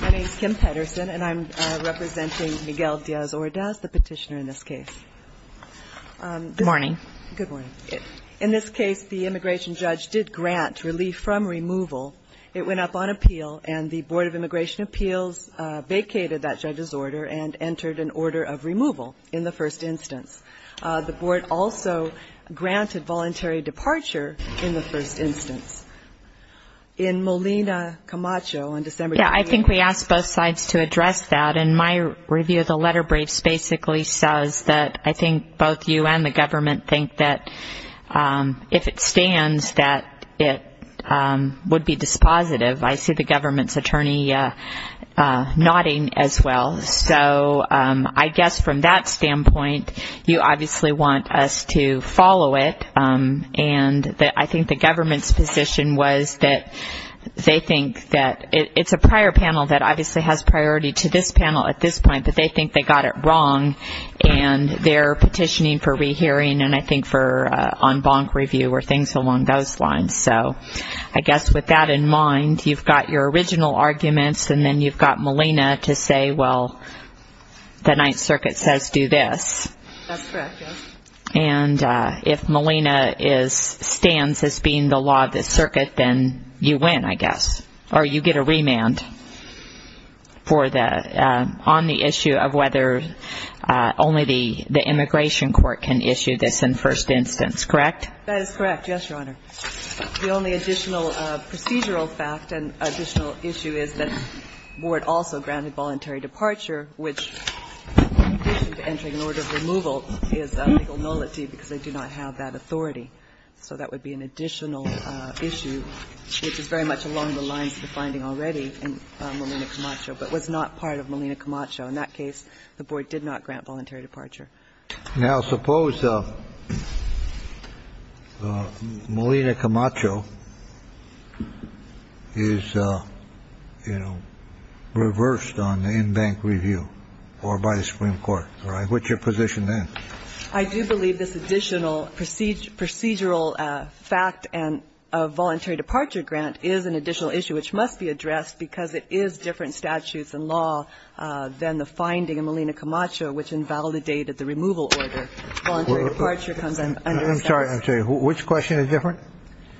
My name is Kim Pedersen, and I'm representing Miguel Diaz-Odaz, the petitioner in this case. Good morning. Good morning. In this case, the immigration judge did grant relief from removal. It went up on appeal, and the Board of Immigration Appeals vacated that judge's order and entered an order of removal in the first instance. The board also granted voluntary departure in the first instance. In Molina Camacho, on December 20th, I think we asked both sides to address that. In my review of the letter, Braves basically says that I think both you and the government think that if it stands, that it would be dispositive. I see the government's attorney nodding as well. So I guess from that standpoint, you obviously want us to follow it. And I think the government's position was that they think that it's a prior panel that obviously has priority to this panel at this point, but they think they got it wrong. And they're petitioning for rehearing, and I think for en banc review or things along those lines. So I guess with that in mind, you've got your original arguments, and then you've got Molina to say, well, the Ninth Circuit says do this. That's correct, yes. And if Molina stands as being the law of the circuit, then you win, I guess, or you get a remand on the issue of whether only the immigration court can issue this in first instance, correct? That is correct, yes, Your Honor. The only additional procedural fact and additional issue is that the board also granted voluntary departure, which in addition to entering an order of removal is a legal nullity because they do not have that authority. So that would be an additional issue, which is very much along the lines of the finding already in Molina Camacho, but was not part of Molina Camacho. In that case, the board did not grant voluntary departure. Now suppose Molina Camacho is reversed on the en banc review or by the Supreme Court, all right? What's your position then? I do believe this additional procedural fact and voluntary departure grant is an additional issue, which must be addressed because it is different statutes and law than the finding in Molina Camacho, which invalidated the removal order. Voluntary departure comes under the statute. I'm sorry, I'm sorry. Which question is different?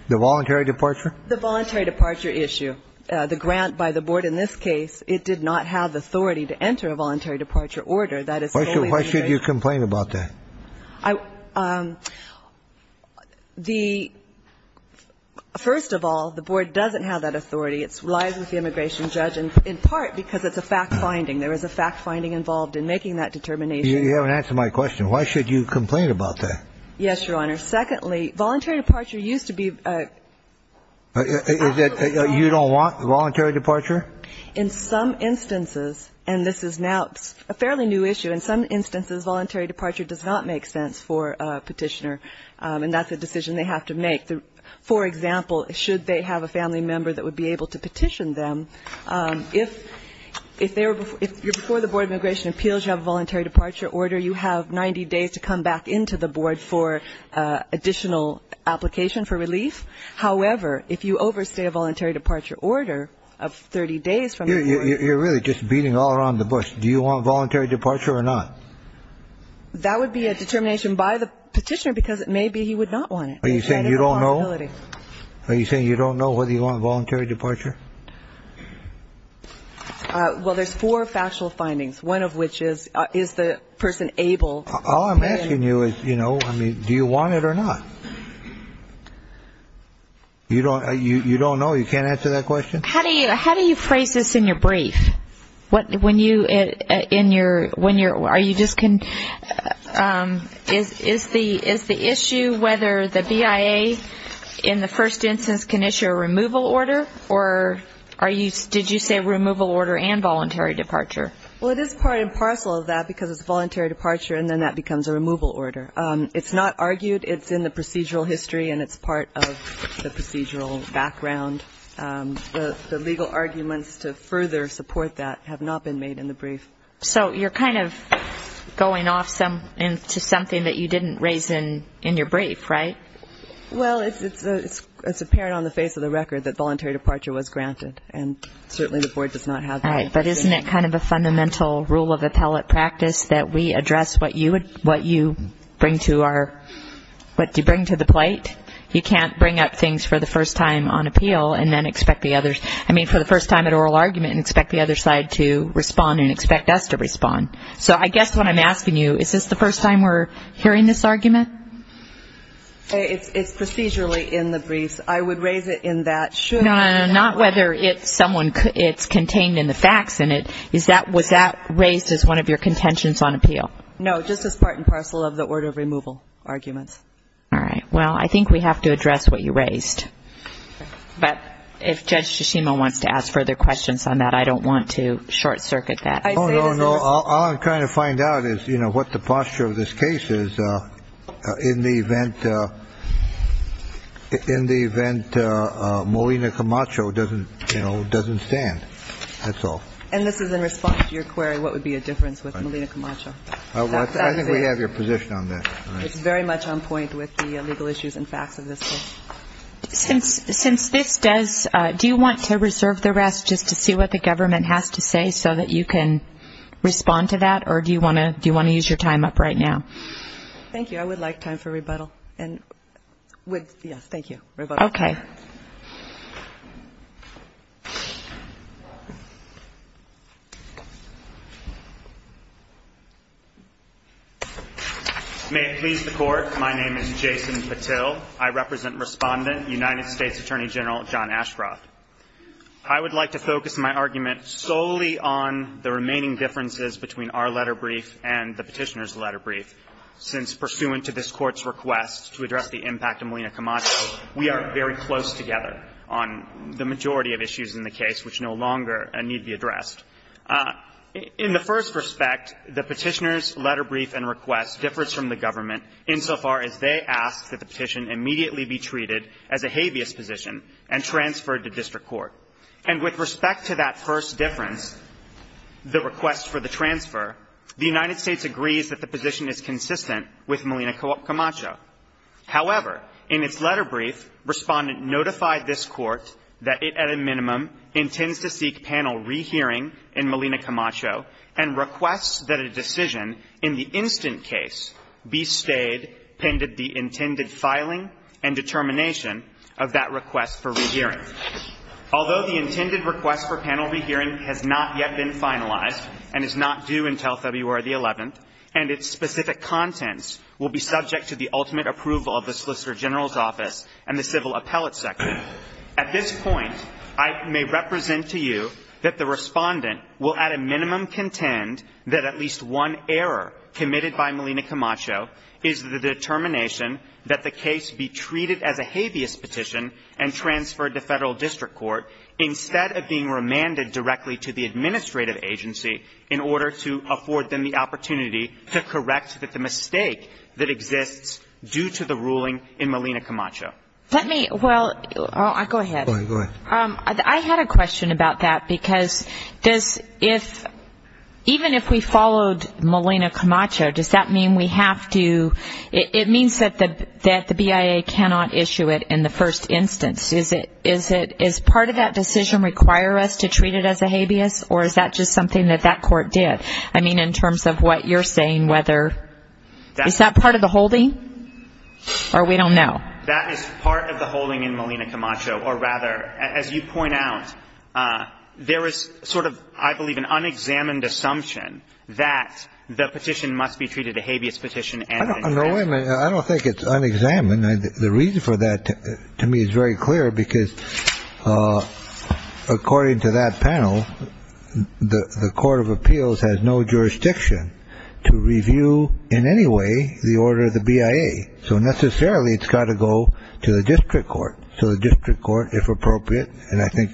The voluntary departure? The voluntary departure issue. The grant by the board in this case, it did not have the authority to enter a voluntary departure order. Why should you complain about that? First of all, the board doesn't have that authority. It lies with the immigration judge, and in part because it's a fact finding. There is a fact finding involved in making that determination. You haven't answered my question. Why should you complain about that? Yes, Your Honor. Secondly, voluntary departure used to be a voluntary departure. You don't want voluntary departure? In some instances, and this is now a fairly new issue, in some instances, voluntary departure does not make sense for a petitioner, and that's a decision they have to make. For example, should they have a family member that would be able to petition them, if you're before the Board of Immigration Appeals, you have a voluntary departure order, you have 90 days to come back into the board for additional application for relief. However, if you overstay a voluntary departure order of 30 days from the board. You're really just beating all around the bush. Do you want voluntary departure or not? That would be a determination by the petitioner, because maybe he would not want it. Are you saying you don't know? Are you saying you don't know whether you want voluntary departure? Well, there's four factual findings, one of which is, is the person able to complain? All I'm asking you is, do you want it or not? You don't know? You can't answer that question? How do you phrase this in your brief? Is the issue whether the BIA, in the first instance, can issue a removal order? Or did you say removal order and voluntary departure? Well, it is part and parcel of that, because it's voluntary departure, and then that becomes a removal order. It's not argued. It's in the procedural history, and it's part of the procedural background. The legal arguments to further support that have not been made in the brief. So you're kind of going off into something that you didn't raise in your brief, right? Well, it's apparent on the face of the record that voluntary departure was granted, and certainly the board does not have that. But isn't it kind of a fundamental rule of appellate practice that we address what you bring to our, what you bring to the plate? You can't bring up things for the first time on appeal and then expect the others. I mean, for the first time at oral argument, and expect the other side to respond and expect us to respond. So I guess what I'm asking you, is this the first time we're hearing this argument? It's procedurally in the briefs. I would raise it in that, should I? No, not whether it's someone, it's contained in the facts, and it is that, was that raised as one of your contentions on appeal? No, just as part and parcel of the order of removal arguments. All right. Well, I think we have to address what you raised. But if Judge Shishima wants to ask further questions on that, I don't want to short circuit that. I say this in response. All I'm trying to find out is what the posture of this case is in the event Molina Camacho doesn't stand. That's all. And this is in response to your query, what would be a difference with Molina Camacho? That's it. I think we have your position on that. It's very much on point with the legal issues and facts of this case. Since this does, do you want to reserve the rest just to see what the government has to say so that you can respond to that? Or do you want to use your time up right now? Thank you. I would like time for rebuttal. And with, yes, thank you, rebuttal. OK. May it please the court. My name is Jason Patil. I represent Respondent, United States Attorney General, John Ashcroft. I would like to focus my argument solely on the remaining differences between our letter brief and the petitioner's letter brief. Since pursuant to this court's request solely on the remaining differences between our letter brief and the petitioner's letter brief. The majority of issues in the case which no longer need be addressed. In the first respect, the petitioner's letter brief and request differs from the government insofar as they ask that the petition immediately be treated as a habeas position and transferred to district court. And with respect to that first difference, the request for the transfer, the United States agrees that the position is consistent with Melina Camacho. However, in its letter brief, Respondent notified this court that it, at a minimum, intends to seek panel rehearing in Melina Camacho and requests that a decision in the instant case be stayed pending the intended filing and determination of that request for rehearing. Although the intended request for panel rehearing has not yet been finalized and is not due until February the 11th, and its specific contents will be subject to the ultimate approval of the Solicitor General's office and the civil appellate section. At this point, I may represent to you that the Respondent will, at a minimum, contend that at least one error committed by Melina Camacho is the determination that the case be treated as a habeas petition and transferred to federal district court instead of being remanded directly to the administrative agency in order to afford them the opportunity to correct the mistake that exists due to the ruling in Melina Camacho. Well, go ahead. I had a question about that, because even if we followed Melina Camacho, does that mean we have to? It means that the BIA cannot issue it in the first instance. Does part of that decision require us to treat it as a habeas, or is that just something that that court did? I mean, in terms of what you're saying, whether. Is that part of the holding, or we don't know? That is part of the holding in Melina Camacho, or rather, as you point out, there is sort of, I believe, an unexamined assumption that the petition must be treated a habeas petition. No, wait a minute. I don't think it's unexamined. The reason for that, to me, is very clear, because according to that panel, the Court of Appeals has no jurisdiction to review in any way the order of the BIA. So necessarily, it's got to go to the district court. So the district court, if appropriate, and I think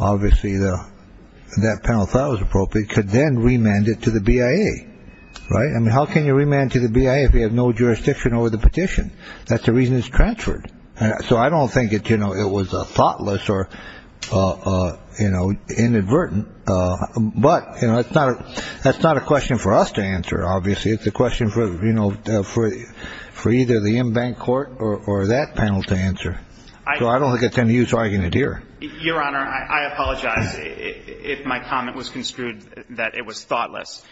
obviously that panel thought it was appropriate, could then remand it to the BIA. I mean, how can you remand to the BIA if you have no jurisdiction over the petition? That's the reason it's transferred. So I don't think it was thoughtless or inadvertent, but that's not a question for us to answer, obviously. It's a question for either the in-bank court or that panel to answer. So I don't think it's any use arguing it here. Your Honor, I apologize if my comment was construed that it was thoughtless.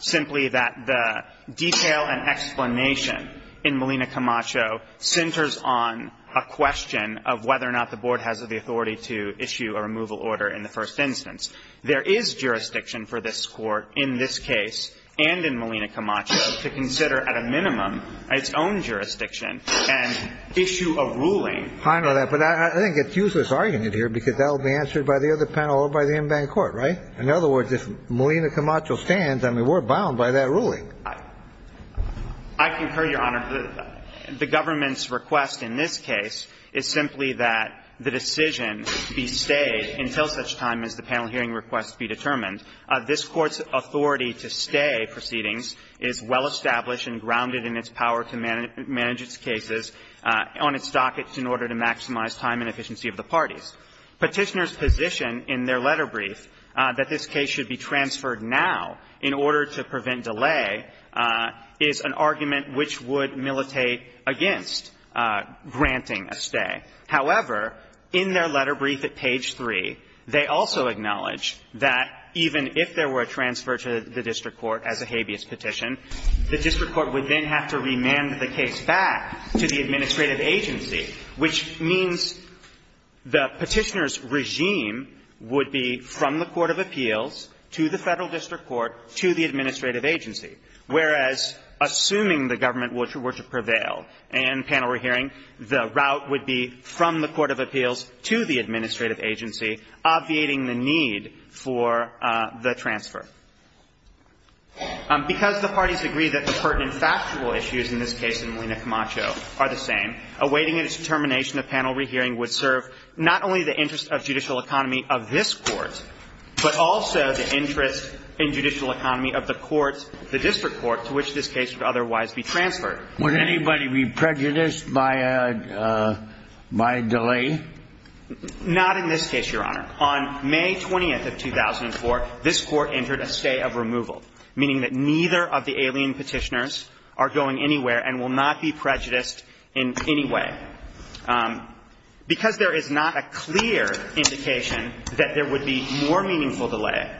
Simply that the detail and explanation in Melina Camacho centers on a question of whether or not the board has the authority to issue a removal order in the first instance. There is jurisdiction for this court in this case and in Melina Camacho to consider at a minimum its own jurisdiction and issue a ruling. I know that, but I think it's useless arguing it here because that will be answered by the other panel or by the in-bank court, right? In other words, if Melina Camacho stands, I mean, we're bound by that ruling. I concur, Your Honor. The government's request in this case is simply that the decision be stayed until such time as the panel hearing request be determined. This Court's authority to stay proceedings is well established and grounded in its power to manage its cases on its dockets in order to maximize time and efficiency of the parties. Petitioners' position in their letter brief that this case should be transferred now in order to prevent delay is an argument which would militate against granting a stay. However, in their letter brief at page 3, they also acknowledge that even if there were a transfer to the district court as a habeas petition, the district court would then have to remand the case back to the administrative agency, which means the petitioner's regime would be from the court of appeals to the federal district court to the administrative agency. Whereas, assuming the government were to prevail in panel re-hearing, the route would be from the court of appeals to the administrative agency, obviating the need for the transfer. Because the parties agree that the pertinent factual issues in this case in Molina Camacho are the same, awaiting a determination of panel re-hearing would serve not only the interest of judicial economy of this Court, but also the interest in judicial economy of the courts, the district court, to which this case would otherwise be transferred. Would anybody be prejudiced by a delay? Not in this case, Your Honor. On May 20th of 2004, this court entered a stay of removal, meaning that neither of the alien petitioners are going anywhere and will not be prejudiced in any way. Because there is not a clear indication that there would be more meaningful delay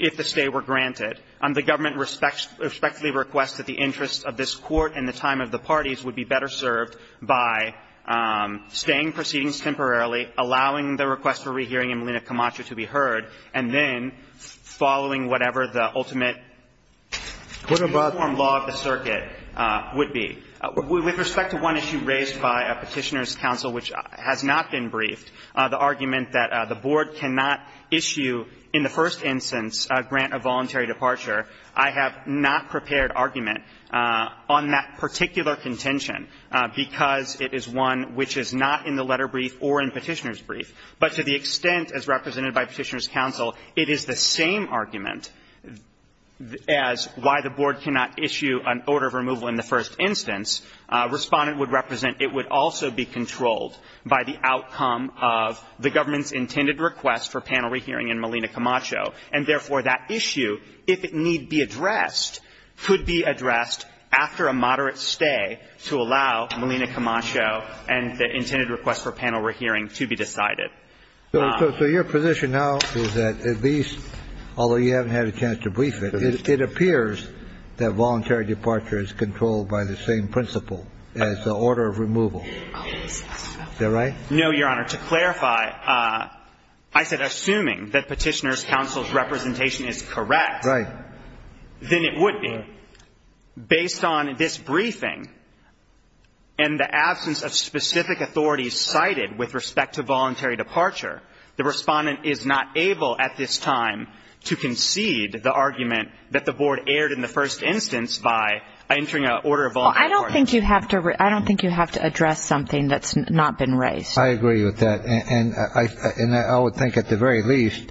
if the stay were granted, the government respectfully requests that the interests of this court and the time of the parties would be better served by staying proceedings temporarily, allowing the request for re-hearing in Molina Camacho to be heard, and then following whatever the ultimate uniform law of the circuit would be. With respect to one issue raised by a petitioner's counsel, which has not been briefed, the argument that the board cannot issue, in the first instance, a grant of voluntary departure, I have not prepared argument on that particular contention, because it is one which is not in the letter brief or in petitioner's brief. But to the extent, as represented by petitioner's counsel, it is the same argument as why the board cannot issue an order of removal in the first instance. Respondent would represent it would also be controlled by the outcome of the government's intended request for panel re-hearing in Molina Camacho. And therefore, that issue, if it need be addressed, could be addressed after a moderate stay to allow Molina Camacho and the intended request for panel re-hearing to be decided. So your position now is that at least, although you haven't had a chance to brief it, it appears that voluntary departure is controlled by the same principle as the order of removal. Is that right? No, Your Honor. To clarify, I said assuming that petitioner's counsel's representation is correct, then it would be. Based on this briefing and the absence of specific authorities cited with respect to voluntary departure, the Respondent is not able at this time to concede the argument that the board erred in the first instance by entering an order of voluntary departure. I don't think you have to address something that's not been raised. I agree with that. And I would think at the very least,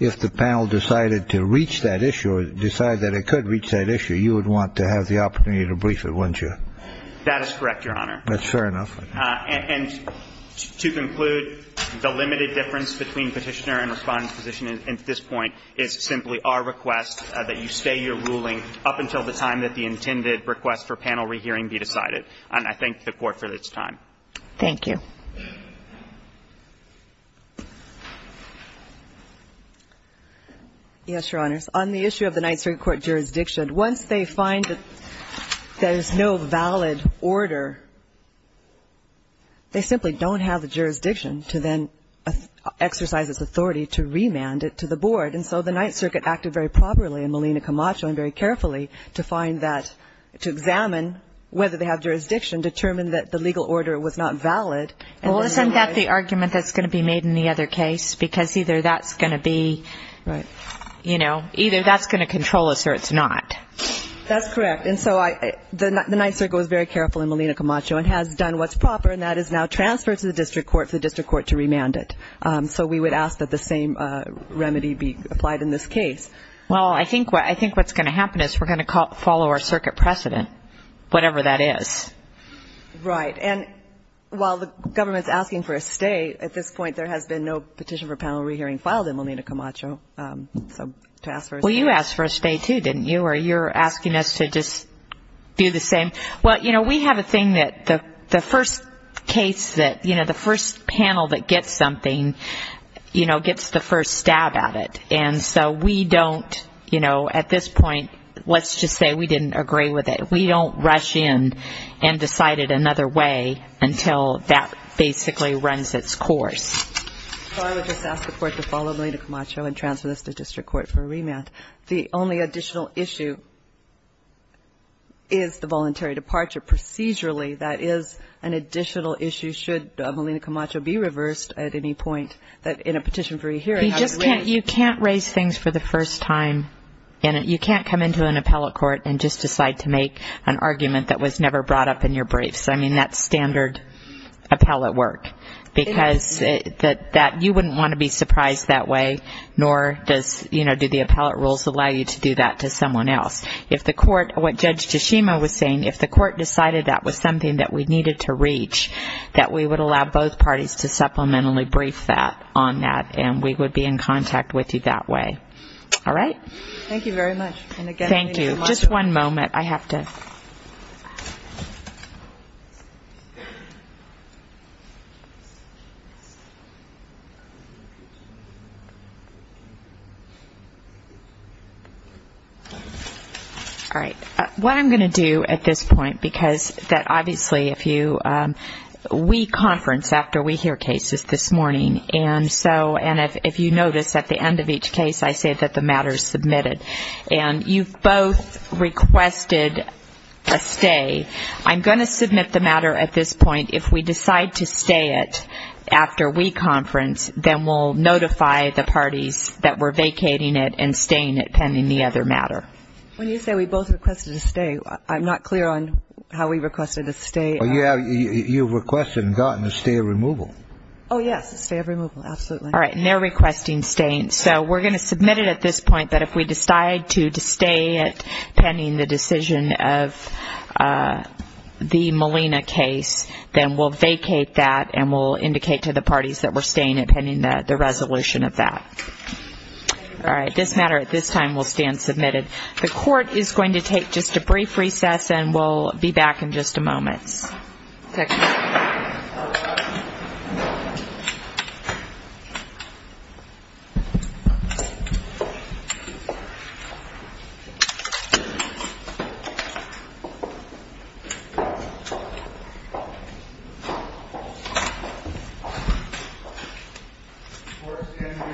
if the panel decided to reach that issue or decide that it could reach that issue, you would want to have the opportunity to brief it, wouldn't you? That is correct, Your Honor. That's fair enough. And to conclude, the limited difference between petitioner and Respondent's position at this point is simply our request that you stay your ruling up until the time that the intended request for panel rehearing be decided. And I thank the Court for its time. Thank you. Yes, Your Honors. On the issue of the Ninth Circuit Court jurisdiction, once they find that there is no valid order, they simply don't have the jurisdiction to then exercise its authority to remand it to the board. And so the Ninth Circuit acted very properly in Molina Camacho and very carefully to find that, to examine whether they have jurisdiction, determine that the legal order was not valid. Well, isn't that the argument that's going to be made in the other case? Because either that's going to be, you know, either that's going to control us or it's not. That's correct. And so the Ninth Circuit was very careful in Molina Camacho and has done what's proper, and that is now transfer it to the district court for the district court to remand it. So we would ask that the same remedy be applied in this case. Well, I think what's going to happen is we're going to follow our circuit precedent, whatever that is. Right. And while the government's asking for a stay, at this point there has been no petition for panel rehearing filed in Molina Camacho. So to ask for a stay. Well, you asked for a stay, too, didn't you? Or you're asking us to just do the same. Well, you know, we have a thing that the first case that, you know, the first panel that gets something, you know, gets the first stab at it. And so we don't, you know, at this point, let's just say we didn't agree with it. We don't rush in and decide it another way until that basically runs its course. So I would just ask the court to follow Molina Camacho and transfer this to district court for a remand. The only additional issue is the voluntary departure. Procedurally, that is an additional issue should Molina Camacho be reversed at any point in a petition for a hearing. You can't raise things for the first time. And you can't come into an appellate court and just decide to make an argument that was never brought up in your briefs. I mean, that's standard appellate work. Because you wouldn't want to be surprised that way, nor does, you know, do the appellate rules allow you to do that to someone else. If the court, what Judge Tashima was saying, if the court decided that was something that we needed to reach, that we would allow both parties to supplementally brief that on that, and we would be in contact with you that way. Thank you very much. And again, thank you so much. Thank you. Just one moment. I have to. All right. What I'm going to do at this point, because that obviously if you, we conference after we hear cases this morning. And so, and if you notice at the end of each case, I say that the matter is submitted. And you've both requested a stay. I'm going to submit the matter at this point. If we decide to stay it after we conference, then we'll notify the parties that we're vacating it and staying it pending the other matter. When you say we both requested a stay, I'm not clear on how we requested a stay. Yeah, you requested and gotten a stay of removal. Oh, yes, a stay of removal. Absolutely. All right. And they're requesting staying. So we're going to submit it at this point that if we decide to stay it pending the decision of the Molina case, then we'll vacate that and we'll indicate to the parties that we're staying it pending the resolution of that. All right, this matter at this time will stand submitted. The court is going to take just a brief recess and we'll be back in just a moment. The court is going to recess for just a couple minutes. The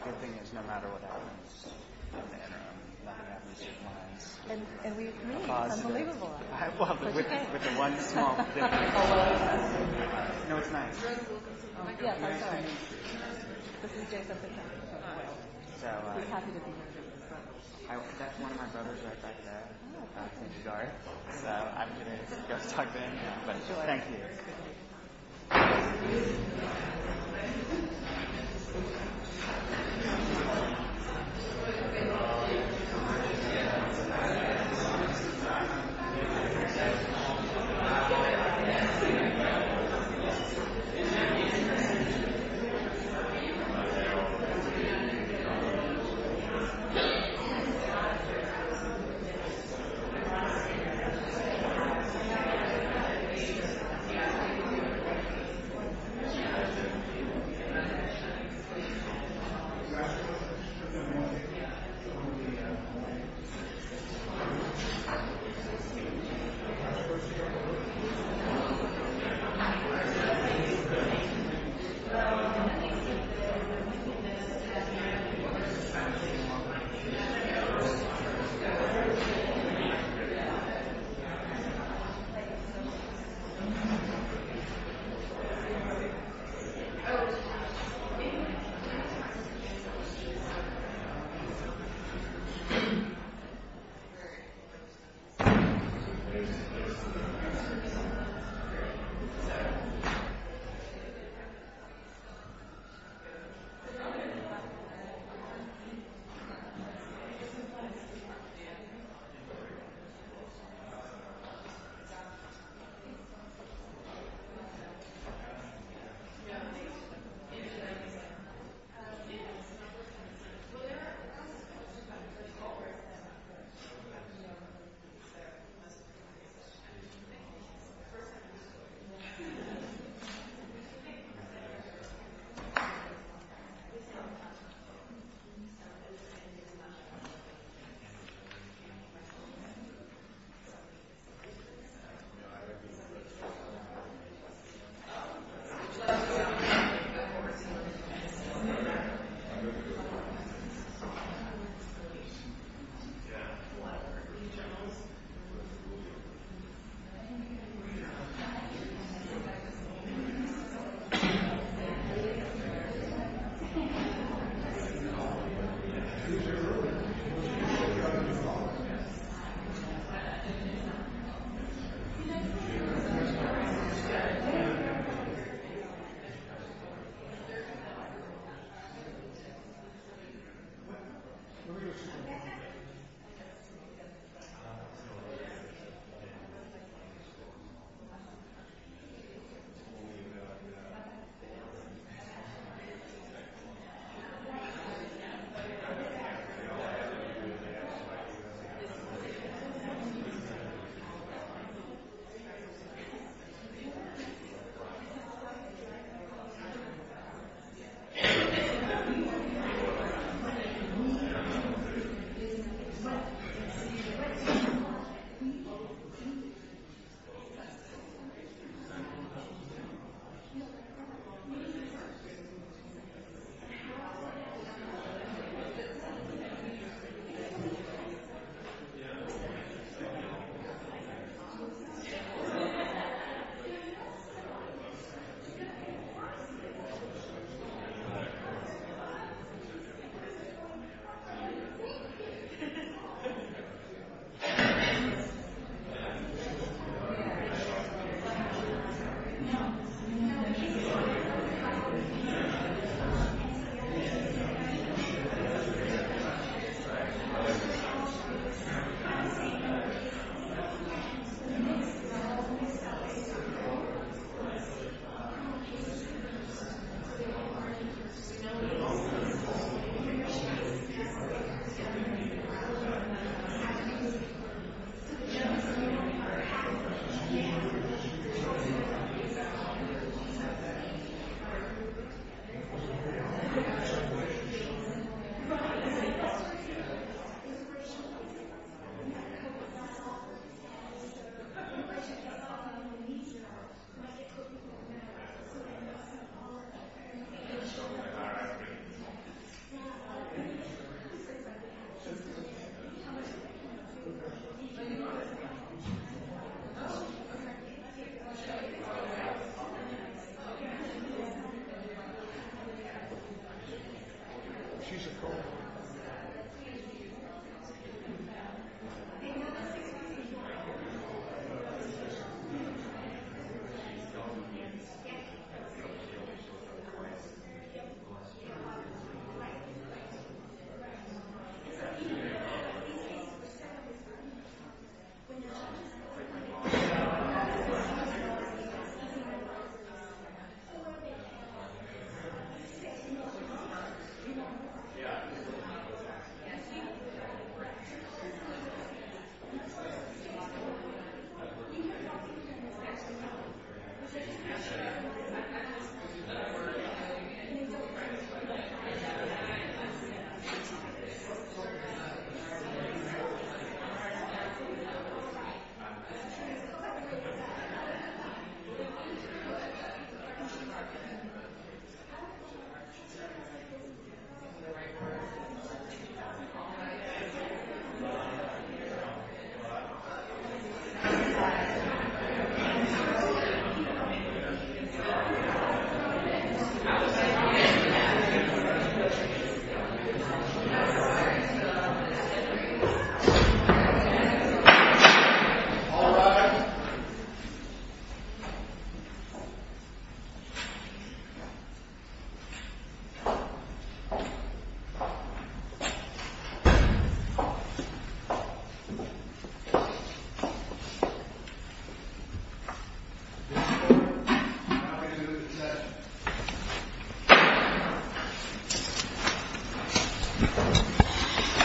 good thing is no matter what happens in the interim, no matter what happens, it applies. And we agree. It's unbelievable. I love it. With the one small thing. No, it's nice. Yeah, that's right. This is James Epstein. We're happy to be here. That's one of my brothers right back there. So I'm going to go talk to him. But thank you.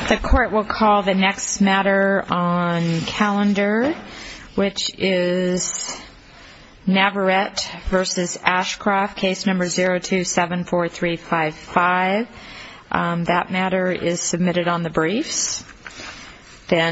The court will call the next matter on calendar, which is Navarette versus Ashcroft, case number 0274355. That matter is submitted on the briefs.